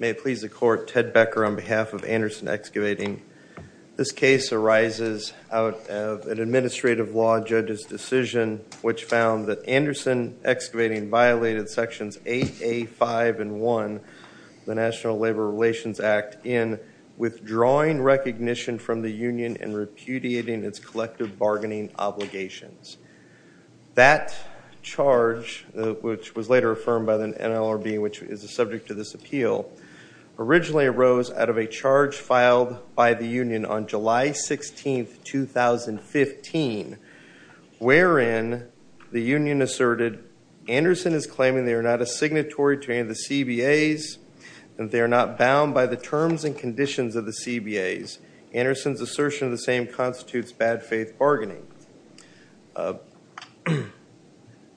May it please the court, Ted Becker on behalf of Anderson Excavating. This case arises out of an administrative law judge's decision which found that Anderson Excavating violated sections 8A, 5, and 1 of the National Labor Relations Act in withdrawing recognition from the union and repudiating its collective bargaining obligations. That charge, which was later affirmed by the NLRB, which is the subject of this appeal, originally arose out of a charge filed by the union on July 16, 2015, wherein the union asserted Anderson is claiming they are not a signatory to any of the CBAs and they are not bound by the terms and conditions of the CBAs. Anderson's assertion of the same constitutes bad faith bargaining.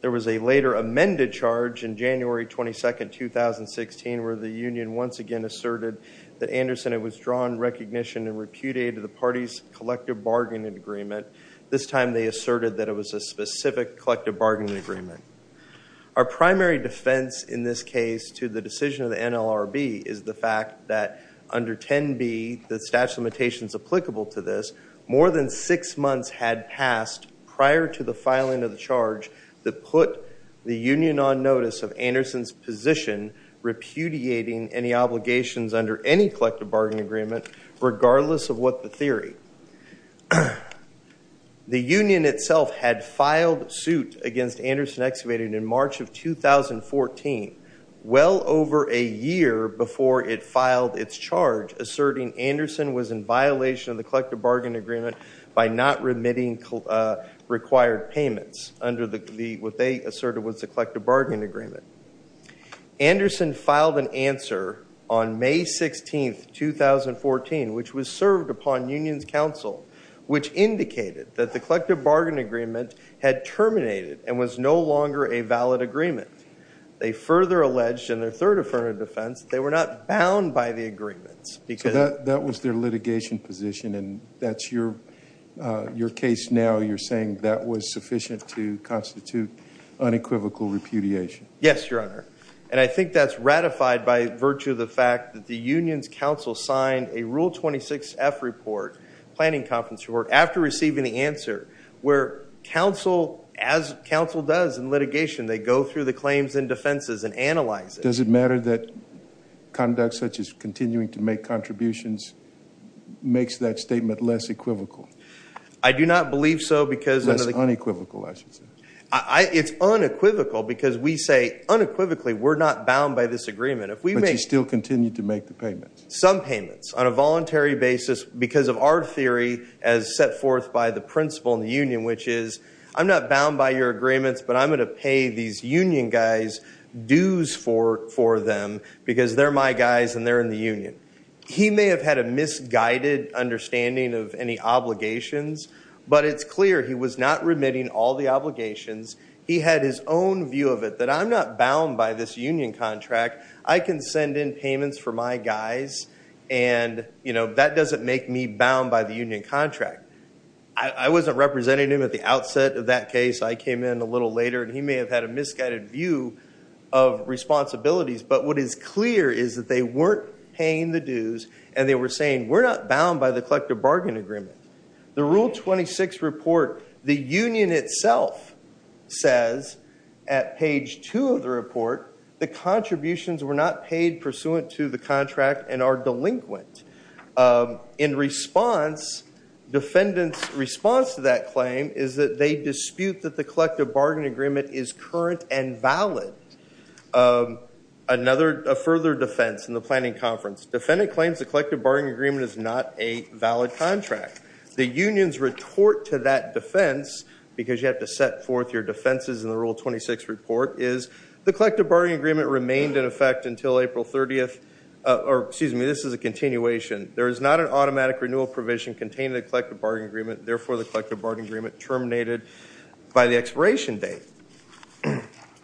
There was a later amended charge in January 22, 2016, where the union once again asserted that Anderson had withdrawn recognition and repudiated the party's collective bargaining agreement. This time they asserted that it was a specific collective bargaining agreement. Our primary defense in this case to the decision of the NLRB is the fact that under 10b, the statute of limitations applicable to this, more than six months had passed prior to the filing of the charge that put the union on notice of Anderson's position repudiating any obligations under any collective bargaining agreement, regardless of what the theory. The union itself had filed suit against Anderson Excavating in March of 2014, well over a year before it filed its charge, asserting Anderson was in violation of the collective bargaining agreement by not remitting required payments under what they asserted was the collective bargaining agreement. Anderson filed an answer on May 16, 2014, which was served upon union's counsel, which indicated that the collective bargaining agreement had terminated and was no longer a valid agreement. They further alleged in their third affirmative defense that they were not bound by the agreements. That was their litigation position, and that's your case now. You're saying that was sufficient to constitute unequivocal repudiation. Yes, your honor. And I think that's ratified by virtue of the fact that the union's counsel signed a Rule 26F report, planning conference report, after receiving the answer, where counsel, as counsel does in litigation, they go through the claims and defenses and analyze it. Does it matter that conduct such as continuing to make contributions makes that statement less equivocal? I do not believe so because of the... Less unequivocal, I should say. It's unequivocal because we say unequivocally we're not bound by this agreement. If we make... But you still continue to make the payments. Some payments on a voluntary basis because of our theory as set forth by the principle in the union, which is I'm not bound by your agreements, but I'm going to pay these union guys dues for them because they're my guys and they're in the union. He may have had a misguided understanding of any obligations, but it's clear he was not remitting all the obligations. He had his own view of it, that I'm not bound by this union contract. I can send in payments for my guys, and that doesn't make me bound by the union contract. I wasn't representing him at the outset of that case. I came in a little later, and he may have had a misguided view of responsibilities. But what is clear is that they weren't paying the dues and they were saying, we're not bound by the collective bargain agreement. The Rule 26 report, the union itself says at page two of the report, the contributions were not paid pursuant to the contract and are delinquent. In response, defendant's response to that claim is that they dispute that the collective bargain agreement is current and valid. Another further defense in the planning conference, defendant claims the collective bargain agreement is not a valid contract. The unions retort to that defense, because you have to set forth your defenses in the Rule 26 report, is the collective bargain agreement remained in effect until April 30th. Or, excuse me, this is a continuation. There is not an automatic renewal provision contained in the collective bargain agreement, therefore the collective bargain agreement terminated by the expiration date.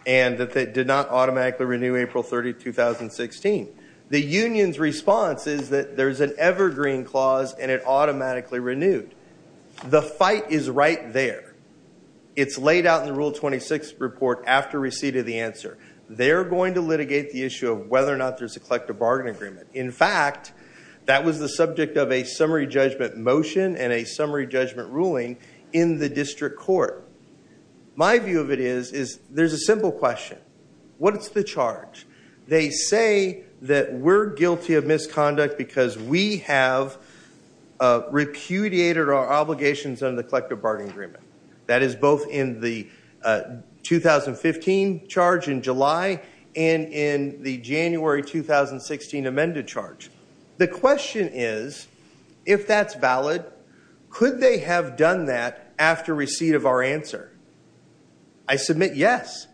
And that they did not automatically renew April 30th, 2016. The union's response is that there's an evergreen clause and it automatically renewed. The fight is right there. It's laid out in the Rule 26 report after receipt of the answer. They're going to litigate the issue of whether or not there's a collective bargain agreement. In fact, that was the subject of a summary judgment motion and a summary judgment ruling in the district court. My view of it is, is there's a simple question. What's the charge? They say that we're guilty of misconduct because we have repudiated our obligations under the collective bargain agreement. That is both in the 2015 charge in July and in the January 2016 amended charge. The question is, if that's valid, could they have done that after receipt of our answer? I submit yes.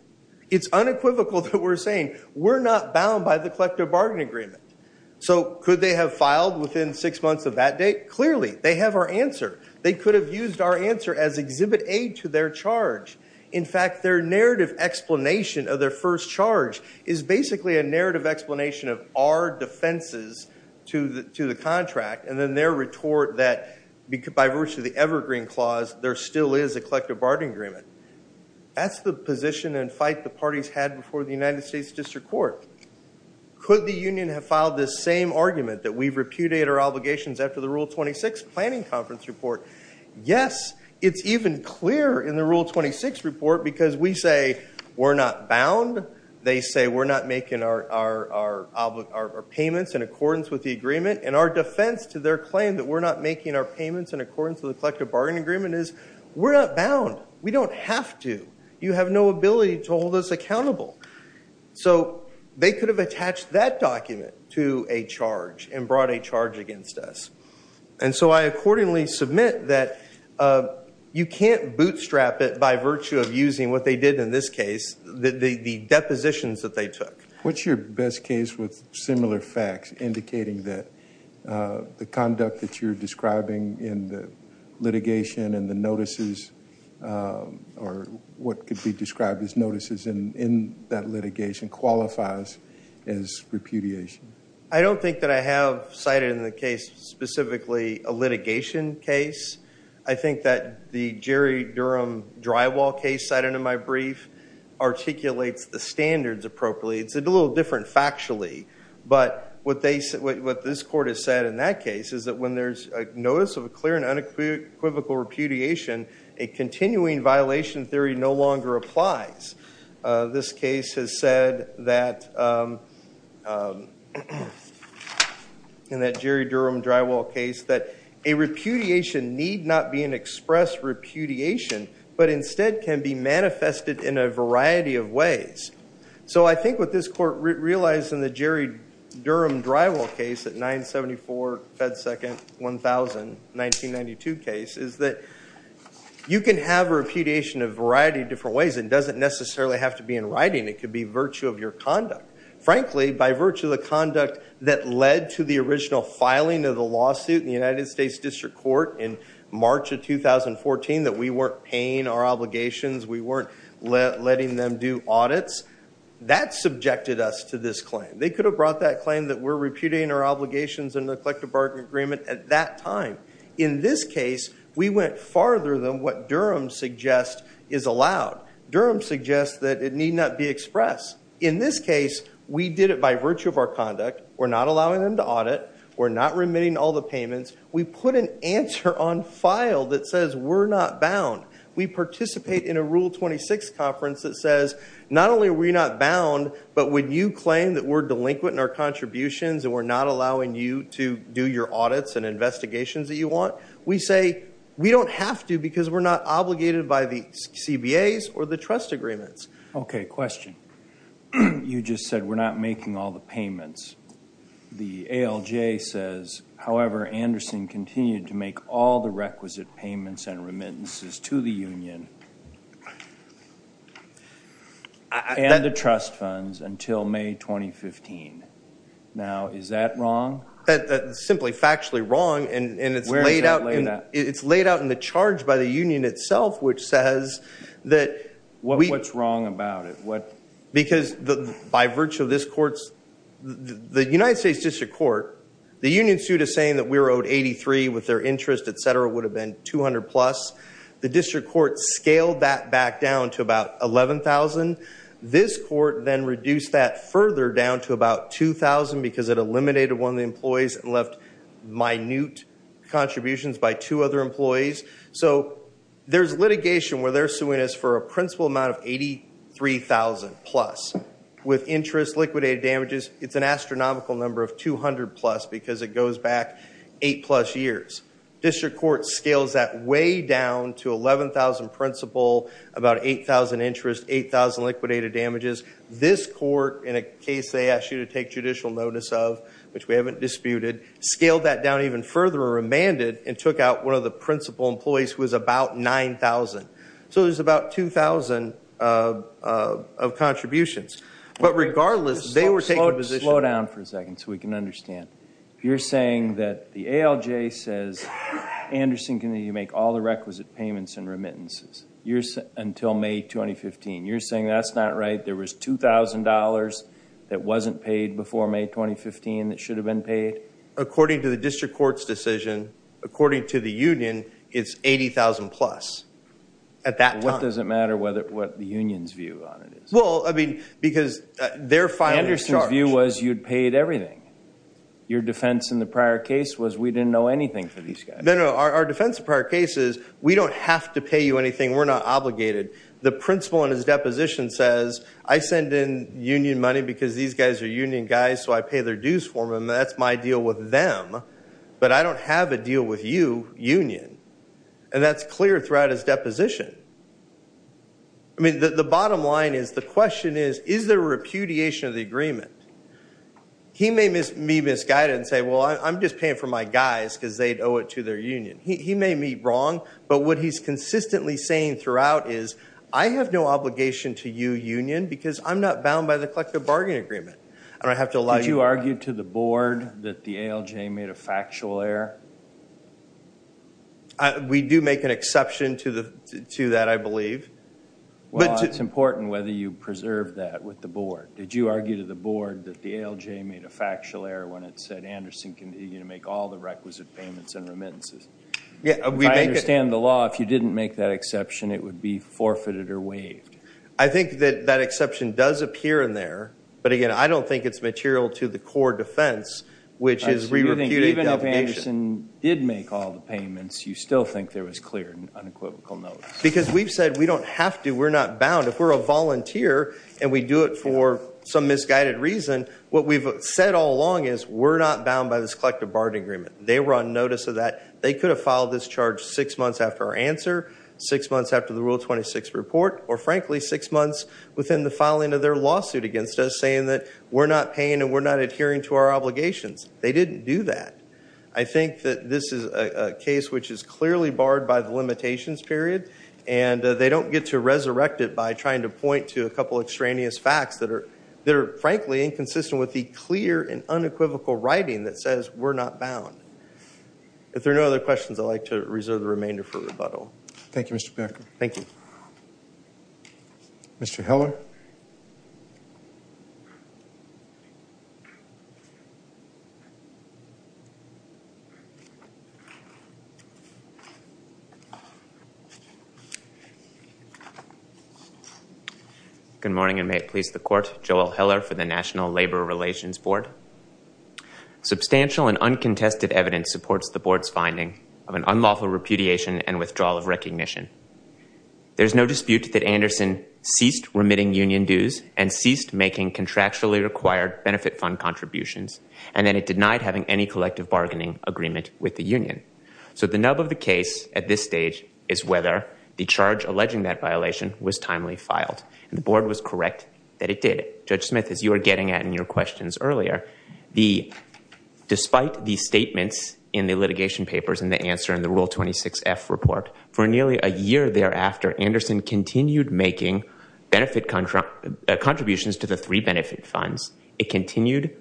It's unequivocal that we're saying we're not bound by the collective bargain agreement. So could they have filed within six months of that date? Clearly, they have our answer. They could have used our answer as exhibit A to their charge. In fact, their narrative explanation of their first charge is basically a narrative explanation of our defenses to the contract and then their retort that, by virtue of the evergreen clause, there still is a collective bargain agreement. That's the position and fight the parties had before the United States District Court. Could the union have filed this same argument that we've repudiated our obligations after the Rule 26 planning conference report? Yes. It's even clear in the Rule 26 report because we say we're not bound. They say we're not making our payments in accordance with the agreement. And our defense to their claim that we're not making our payments in accordance with the collective bargain agreement is, we're not bound. We don't have to. You have no ability to hold us accountable. So they could have attached that document to a charge and brought a charge against us. And so I accordingly submit that you can't bootstrap it by virtue of using what they did in this case, the depositions that they took. What's your best case with similar facts indicating that the conduct that you're describing in that litigation qualifies as repudiation? I don't think that I have cited in the case specifically a litigation case. I think that the Jerry Durham drywall case cited in my brief articulates the standards appropriately. It's a little different factually. But what this court has said in that case is that when there's a notice of a clear and unequivocal repudiation, a continuing violation theory no longer applies. This case has said that, in that Jerry Durham drywall case, that a repudiation need not be an express repudiation, but instead can be manifested in a variety of ways. So I think what this court realized in the Jerry Durham drywall case at 974 Fed Second 1000, 1992 case, is that you can have repudiation a variety of different ways. It doesn't necessarily have to be in writing. It could be virtue of your conduct. Frankly, by virtue of the conduct that led to the original filing of the lawsuit in the United States District Court in March of 2014, that we weren't paying our obligations, we weren't letting them do audits, that subjected us to this claim. They could have brought that claim that we're repudiating our obligations in the collective bargaining agreement at that time. In this case, we went farther than what Durham suggests is allowed. Durham suggests that it need not be expressed. In this case, we did it by virtue of our conduct. We're not allowing them to audit. We're not remitting all the payments. We put an answer on file that says we're not bound. We participate in a Rule 26 conference that says not only are we not bound, but when you claim that we're delinquent in our contributions and we're not allowing you to do your audits and investigations that you want, we say we don't have to because we're not obligated by the CBAs or the trust agreements. Okay, question. You just said we're not making all the payments. The ALJ says, however, Anderson continued to make all the requisite payments and remittances to the union and the trust funds until May 2015. Now is that wrong? That's simply factually wrong and it's laid out in the charge by the union itself, which says that we... What's wrong about it? Because by virtue of this court's... The United States District Court, the union suit is saying that we were owed 83 with their interest, et cetera, would have been 200 plus. The District Court scaled that back down to about 11,000. This court then reduced that further down to about 2,000 because it eliminated one of the employees and left minute contributions by two other employees. So there's litigation where they're suing us for a principal amount of 83,000 plus with interest, liquidated damages. It's an astronomical number of 200 plus because it goes back eight plus years. District Court scales that way down to 11,000 principal, about 8,000 interest, 8,000 liquidated damages. This court, in a case they asked you to take judicial notice of, which we haven't disputed, scaled that down even further or remanded and took out one of the principal employees who was about 9,000. So there's about 2,000 of contributions. But regardless, they were taking position... Slow down for a second so we can understand. You're saying that the ALJ says Anderson can make all the requisite payments and remittances until May 2015. You're saying that's not right? There was $2,000 that wasn't paid before May 2015 that should have been paid? According to the District Court's decision, according to the union, it's 80,000 plus at that time. What does it matter what the union's view on it is? Well, I mean, because they're finally charged. Our view was you'd paid everything. Your defense in the prior case was we didn't know anything for these guys. No, no. Our defense in the prior case is we don't have to pay you anything. We're not obligated. The principal in his deposition says, I send in union money because these guys are union guys so I pay their dues for them. That's my deal with them. But I don't have a deal with you, union. And that's clear throughout his deposition. I mean, the bottom line is, the question is, is there a repudiation of the agreement? He may misguide it and say, well, I'm just paying for my guys because they owe it to their union. He may be wrong, but what he's consistently saying throughout is, I have no obligation to you, union, because I'm not bound by the collective bargaining agreement. I don't have to allow you- Did you argue to the board that the ALJ made a factual error? We do make an exception to that, I believe. Well, it's important whether you preserve that with the board. Did you argue to the board that the ALJ made a factual error when it said Anderson can make all the requisite payments and remittances? If I understand the law, if you didn't make that exception, it would be forfeited or waived. I think that that exception does appear in there, but again, I don't think it's material to the core defense, which is- Even if Anderson did make all the payments, you still think there was clear and unequivocal notice? Because we've said we don't have to, we're not bound. If we're a volunteer and we do it for some misguided reason, what we've said all along is we're not bound by this collective bargaining agreement. They were on notice of that. They could have filed this charge six months after our answer, six months after the Rule 26 report, or frankly, six months within the filing of their lawsuit against us saying that we're not paying and we're not adhering to our obligations. They didn't do that. I think that this is a case which is clearly barred by the limitations period, and they don't get to resurrect it by trying to point to a couple extraneous facts that are frankly inconsistent with the clear and unequivocal writing that says we're not bound. If there are no other questions, I'd like to reserve the remainder for rebuttal. Thank you, Mr. Becker. Thank you. Mr. Heller? Good morning, and may it please the Court. Joel Heller for the National Labor Relations Board. Substantial and uncontested evidence supports the Board's finding of an unlawful repudiation and withdrawal of recognition. There's no dispute that Anderson ceased remitting union dues and ceased making contractually required benefit fund contributions, and then it denied having any collective bargaining agreement with the union. So the nub of the case at this stage is whether the charge alleging that violation was timely filed. The Board was correct that it did. Judge Smith, as you were getting at in your questions earlier, despite the statements in the litigation papers and the answer in the Rule 26F report, for nearly a year thereafter, Anderson continued making contributions to the three benefit funds. It continued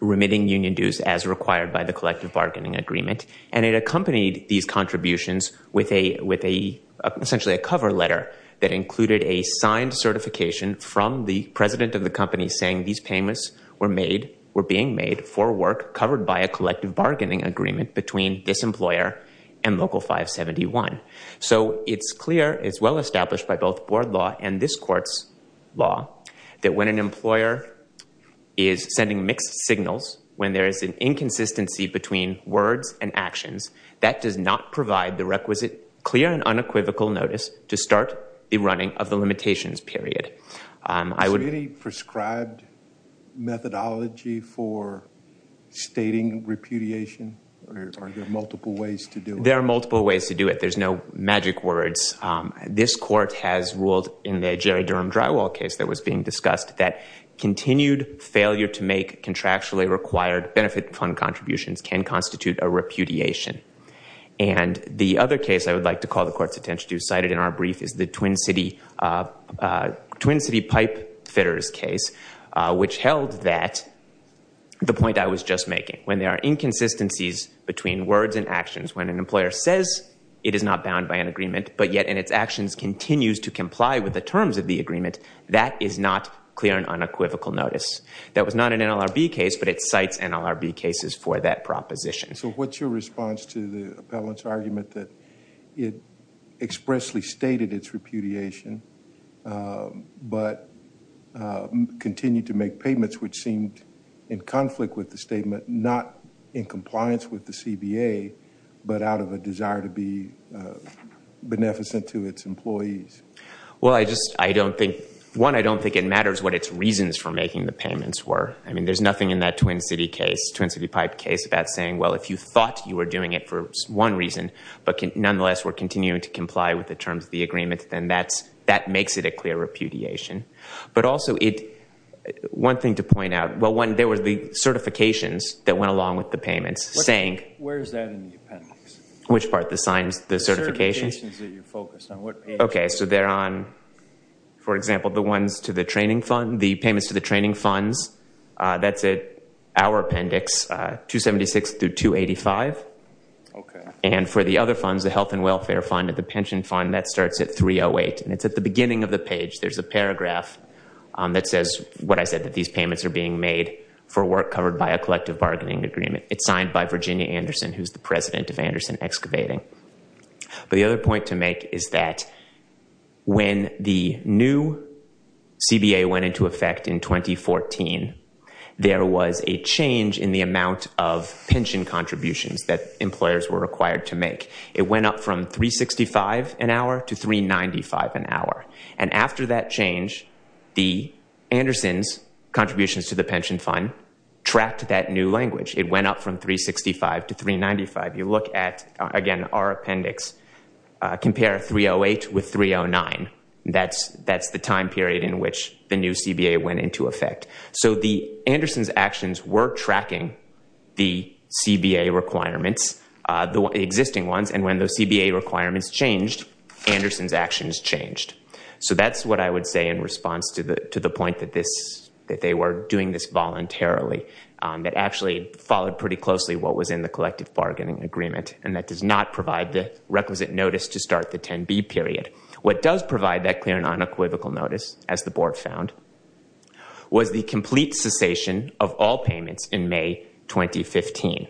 remitting union dues as required by the collective bargaining agreement, and it accompanied these contributions with essentially a cover letter that included a signed certification from the president of the company saying these payments were being made for work covered by a collective bargaining agreement between this employer and Local 571. So it's clear, it's well established by both Board law and this Court's law that when an employer is sending mixed signals, when there is an inconsistency between words and actions, that does not provide the requisite clear and unequivocal notice to start the running of the limitations period. Is there any prescribed methodology for stating repudiation? Are there multiple ways to do it? There are multiple ways to do it. There's no magic words. This Court has ruled in the Jerry Durham Drywall case that was being discussed that continued failure to make contractually required benefit fund contributions can constitute a repudiation. And the other case I would like to call the Court's attention to, cited in our brief, is the Twin City Pipe Fitters case, which held that, the point I was just making, when there are inconsistencies between words and actions, when an employer says it is not bound by an agreement, but yet in its actions continues to comply with the terms of the agreement, that is not clear and unequivocal notice. That was not an NLRB case, but it cites NLRB cases for that proposition. So what's your response to the appellant's argument that it expressly stated its repudiation, but continued to make payments, which seemed in conflict with the statement, not in compliance with the CBA, but out of a desire to be beneficent to its employees? Well, I just, I don't think, one, I don't think it matters what its reasons for making the payments were. I mean, there's nothing in that Twin City case, Twin City Pipe case, about saying, well, if you thought you were doing it for one reason, but nonetheless were continuing to comply with the terms of the agreement, then that's, that makes it a clear repudiation. But also it, one thing to point out, well, one, there were the certifications that went along with the payments, saying. Where is that in the appendix? Which part? The signs, the certifications? The certifications that you focused on. What page? Okay, so they're on, for example, the ones to the training fund, the payments to the That's at our appendix, 276 through 285. And for the other funds, the health and welfare fund and the pension fund, that starts at 308. And it's at the beginning of the page. There's a paragraph that says what I said, that these payments are being made for work covered by a collective bargaining agreement. It's signed by Virginia Anderson, who's the president of Anderson Excavating. But the other point to make is that when the new CBA went into effect in 2014, there was a change in the amount of pension contributions that employers were required to make. It went up from 365 an hour to 395 an hour. And after that change, the Andersons contributions to the pension fund trapped that new language. It went up from 365 to 395. You look at, again, our appendix, compare 308 with 309. That's the time period in which the new CBA went into effect. So the Andersons actions were tracking the CBA requirements, the existing ones. And when the CBA requirements changed, Andersons actions changed. So that's what I would say in response to the point that they were doing this voluntarily, that actually followed pretty closely what was in the collective bargaining agreement. And that does not provide the requisite notice to start the 10B period. What does provide that clear and unequivocal notice, as the board found, was the complete cessation of all payments in May 2015.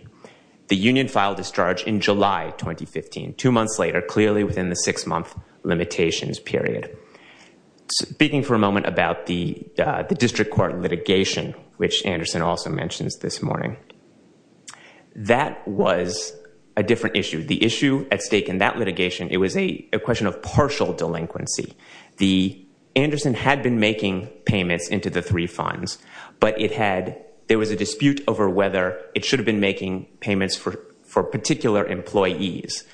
The union filed discharge in July 2015, two months later, clearly within the six-month limitations period. Speaking for a moment about the district court litigation, which Anderson also mentions this morning, that was a different issue. The issue at stake in that litigation, it was a question of partial delinquency. The Andersons had been making payments into the three funds, but there was a dispute over whether it should have been making payments for particular employees,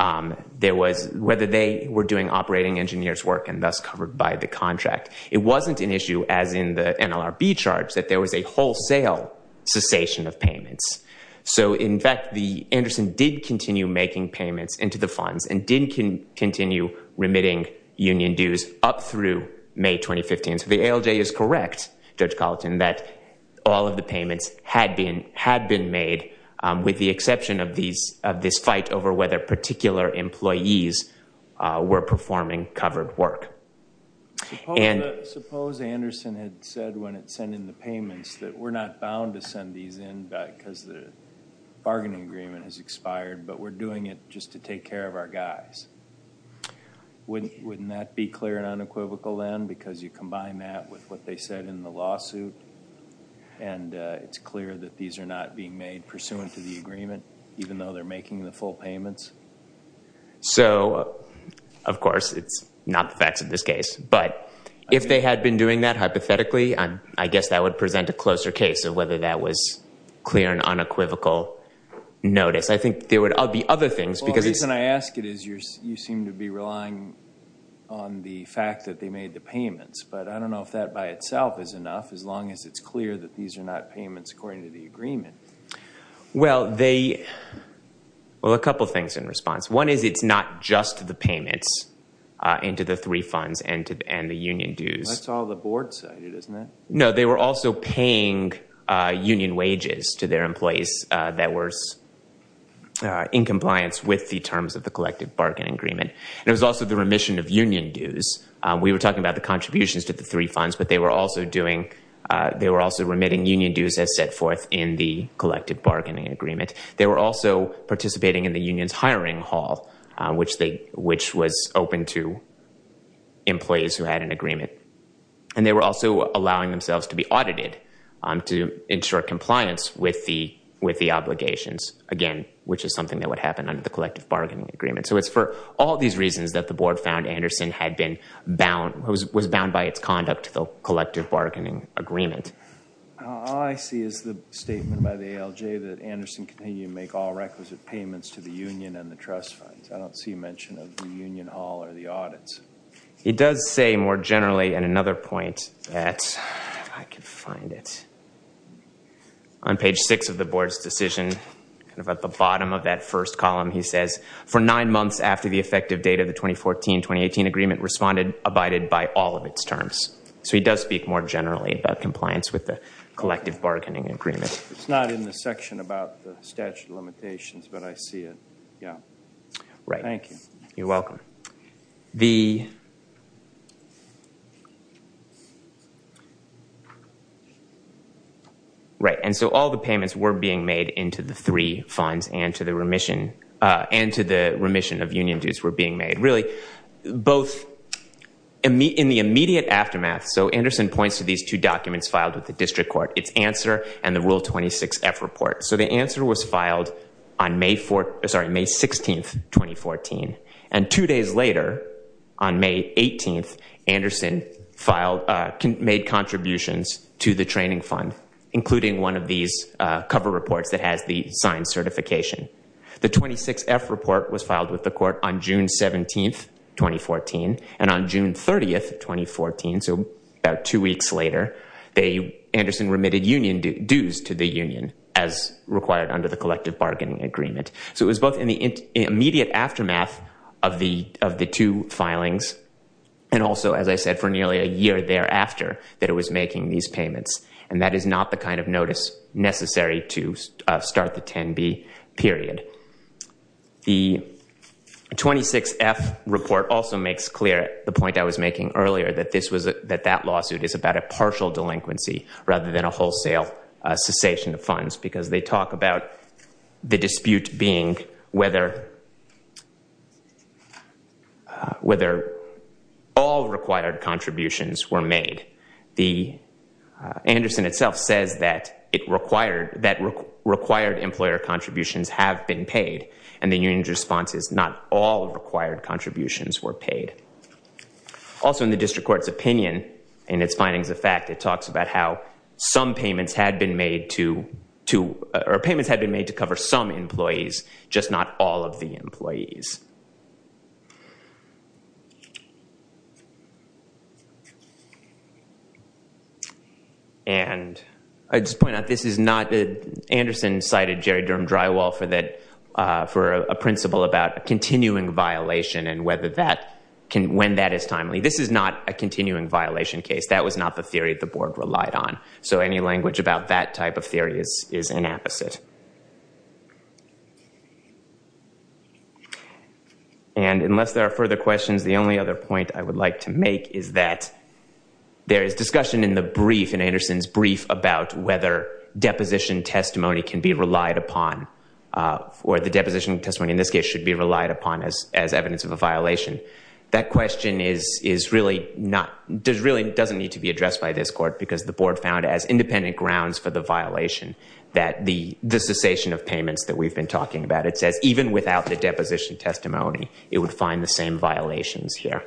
whether they were doing operating engineers' work and thus covered by the contract. It wasn't an issue, as in the NLRB charge, that there was a wholesale cessation of payments. So in fact, Anderson did continue making payments into the funds and did continue remitting union dues up through May 2015. So the ALJ is correct, Judge Colleton, that all of the payments had been made, with the board performing covered work. Suppose Anderson had said when it sent in the payments that we're not bound to send these in because the bargaining agreement has expired, but we're doing it just to take care of our guys. Wouldn't that be clear and unequivocal then? Because you combine that with what they said in the lawsuit, and it's clear that these are not being made pursuant to the agreement, even though they're making the full payments? So, of course, it's not the facts of this case. But if they had been doing that, hypothetically, I guess that would present a closer case of whether that was clear and unequivocal notice. I think there would be other things, because— Well, the reason I ask it is you seem to be relying on the fact that they made the payments. But I don't know if that by itself is enough, as long as it's clear that these are not payments according to the agreement. Well, they—well, a couple things in response. One is it's not just the payments into the three funds and the union dues. That's all the board cited, isn't it? No, they were also paying union wages to their employees that were in compliance with the terms of the collective bargaining agreement. And it was also the remission of union dues. We were talking about the contributions to the three funds, but they were also remitting union dues as set forth in the collective bargaining agreement. They were also participating in the union's hiring hall, which was open to employees who had an agreement. And they were also allowing themselves to be audited to ensure compliance with the obligations, again, which is something that would happen under the collective bargaining agreement. So it's for all these reasons that the board found Anderson had been bound—was bound by its conduct to the collective bargaining agreement. All I see is the statement by the ALJ that Anderson continued to make all requisite payments to the union and the trust funds. I don't see mention of the union hall or the audits. It does say more generally, and another point that—if I can find it—on page 6 of the board's decision, kind of at the bottom of that first column, he says, for nine months after the effective date of the 2014-2018 agreement, responded—abided by all of its terms. So he does speak more generally about compliance with the collective bargaining agreement. It's not in the section about the statute of limitations, but I see it. Yeah. Right. Thank you. You're welcome. The—right, and so all the payments were being made into the three funds and to the remission and to the remission of union dues were being made, really, both—in the immediate aftermath, so Anderson points to these two documents filed with the district court, its answer and the Rule 26-F report. So the answer was filed on May 4—sorry, May 16, 2014, and two days later, on May 18, Anderson filed—made contributions to the training fund, including one of these cover reports that has the signed certification. The 26-F report was filed with the court on June 17, 2014, and on June 30, 2014, so about two weeks later, they—Anderson remitted union dues to the union as required under the collective bargaining agreement. So it was both in the immediate aftermath of the two filings and also, as I said, for nearly a year thereafter that it was making these payments, and that is not the kind of The 26-F report also makes clear the point I was making earlier, that this was—that that lawsuit is about a partial delinquency rather than a wholesale cessation of funds because they talk about the dispute being whether all required contributions were made. The—Anderson itself says that it required—that required employer contributions have been paid, and the union's response is not all required contributions were paid. Also in the district court's opinion, in its findings of fact, it talks about how some payments had been made to—to—or payments had been made to cover some employees, just not all of the employees. And I just point out this is not—Anderson cited Jerry Durham-Drywall for that—for a principle about a continuing violation and whether that can—when that is timely. This is not a continuing violation case. That was not the theory the board relied on. So any language about that type of theory is—is an opposite. And unless there are further questions, the only other point I would like to make is that there is discussion in the brief, in Anderson's brief, about whether deposition testimony can be relied upon, or the deposition testimony in this case should be relied upon as—as evidence of a violation. That question is—is really not—does really—doesn't need to be addressed by this court because the board found as independent grounds for the violation that the—the cessation of payments that we've been talking about, it says even without the deposition testimony, it would find the same violations here.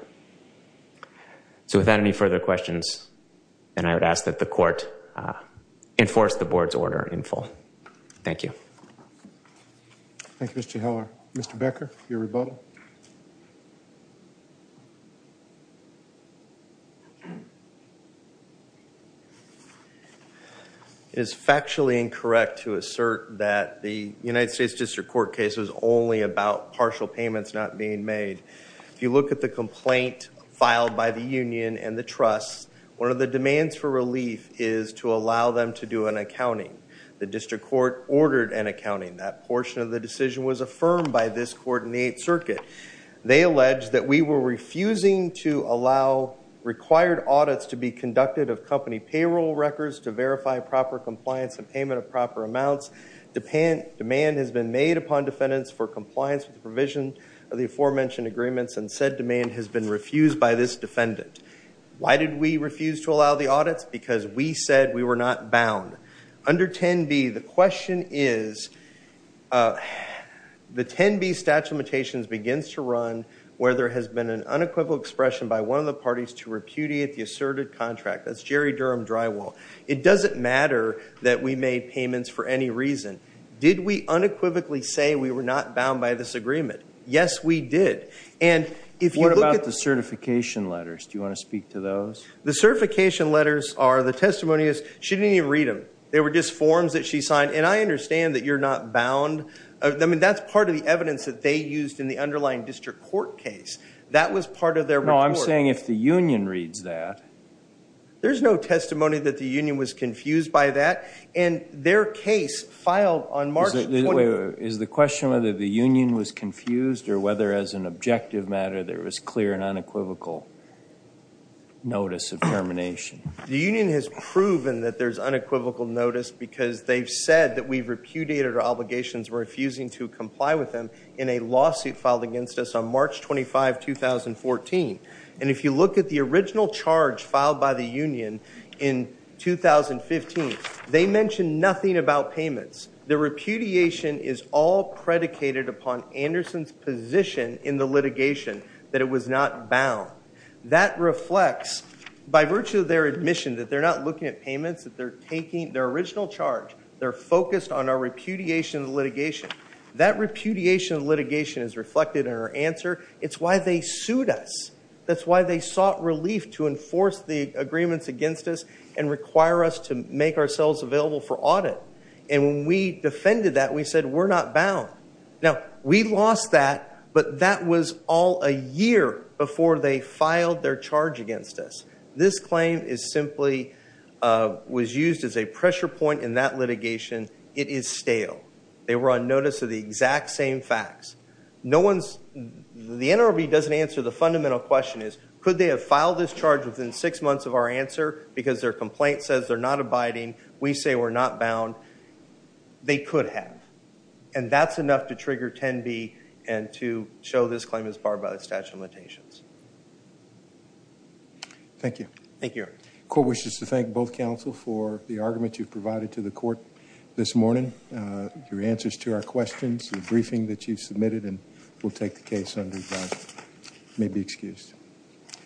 So without any further questions, then I would ask that the court enforce the board's order in full. Thank you. Thank you, Mr. Heller. Mr. Becker, your rebuttal. It is factually incorrect to assert that the United States District Court case was only about partial payments not being made. If you look at the complaint filed by the union and the trust, one of the demands for relief is to allow them to do an accounting. The district court ordered an accounting. That portion of the decision was affirmed by this court in the Eighth Circuit. They allege that we were refusing to allow required audits to be conducted of company payroll records to verify proper compliance and payment of proper amounts. Demand has been made upon defendants for compliance with the provision of the aforementioned agreements and said demand has been refused by this defendant. Why did we refuse to allow the audits? Because we said we were not bound. Under 10B, the question is, the 10B statute of limitations begins to run where there has been an unequivocal expression by one of the parties to repudiate the asserted contract. That's Jerry Durham Drywall. It doesn't matter that we made payments for any reason. Did we unequivocally say we were not bound by this agreement? Yes, we did. And if you look at the certification letters, do you want to speak to those? The certification letters are the testimonies. She didn't even read them. They were just forms that she signed. And I understand that you're not bound. I mean, that's part of the evidence that they used in the underlying district court case. That was part of their report. No, I'm saying if the union reads that. There's no testimony that the union was confused by that. And their case filed on March. Is the question whether the union was confused or whether as an objective matter there was clear and unequivocal notice of termination? The union has proven that there's unequivocal notice because they've said that we've repudiated our obligations refusing to comply with them in a lawsuit filed against us on March 25, 2014. And if you look at the original charge filed by the union in 2015, they mentioned nothing about payments. The repudiation is all predicated upon Anderson's position in the litigation that it was not bound. That reflects by virtue of their admission that they're not looking at payments, that they're taking their original charge. They're focused on our repudiation of litigation. That repudiation of litigation is reflected in our answer. It's why they sued us. That's why they sought relief to enforce the agreements against us and require us to make ourselves available for audit. And when we defended that, we said, we're not bound. Now, we lost that. But that was all a year before they filed their charge against us. This claim is simply was used as a pressure point in that litigation. It is stale. They were on notice of the exact same facts. The NRB doesn't answer the fundamental question is, could they have filed this charge within six months of our answer? Because their complaint says they're not abiding. We say we're not bound. They could have. And that's enough to trigger 10B and to show this claim is barred by the statute of limitations. Thank you. Thank you, Eric. Court wishes to thank both counsel for the argument you've provided to the court this morning, your answers to our questions, the briefing that you submitted, and we'll take the case under adjustment. You may be excused.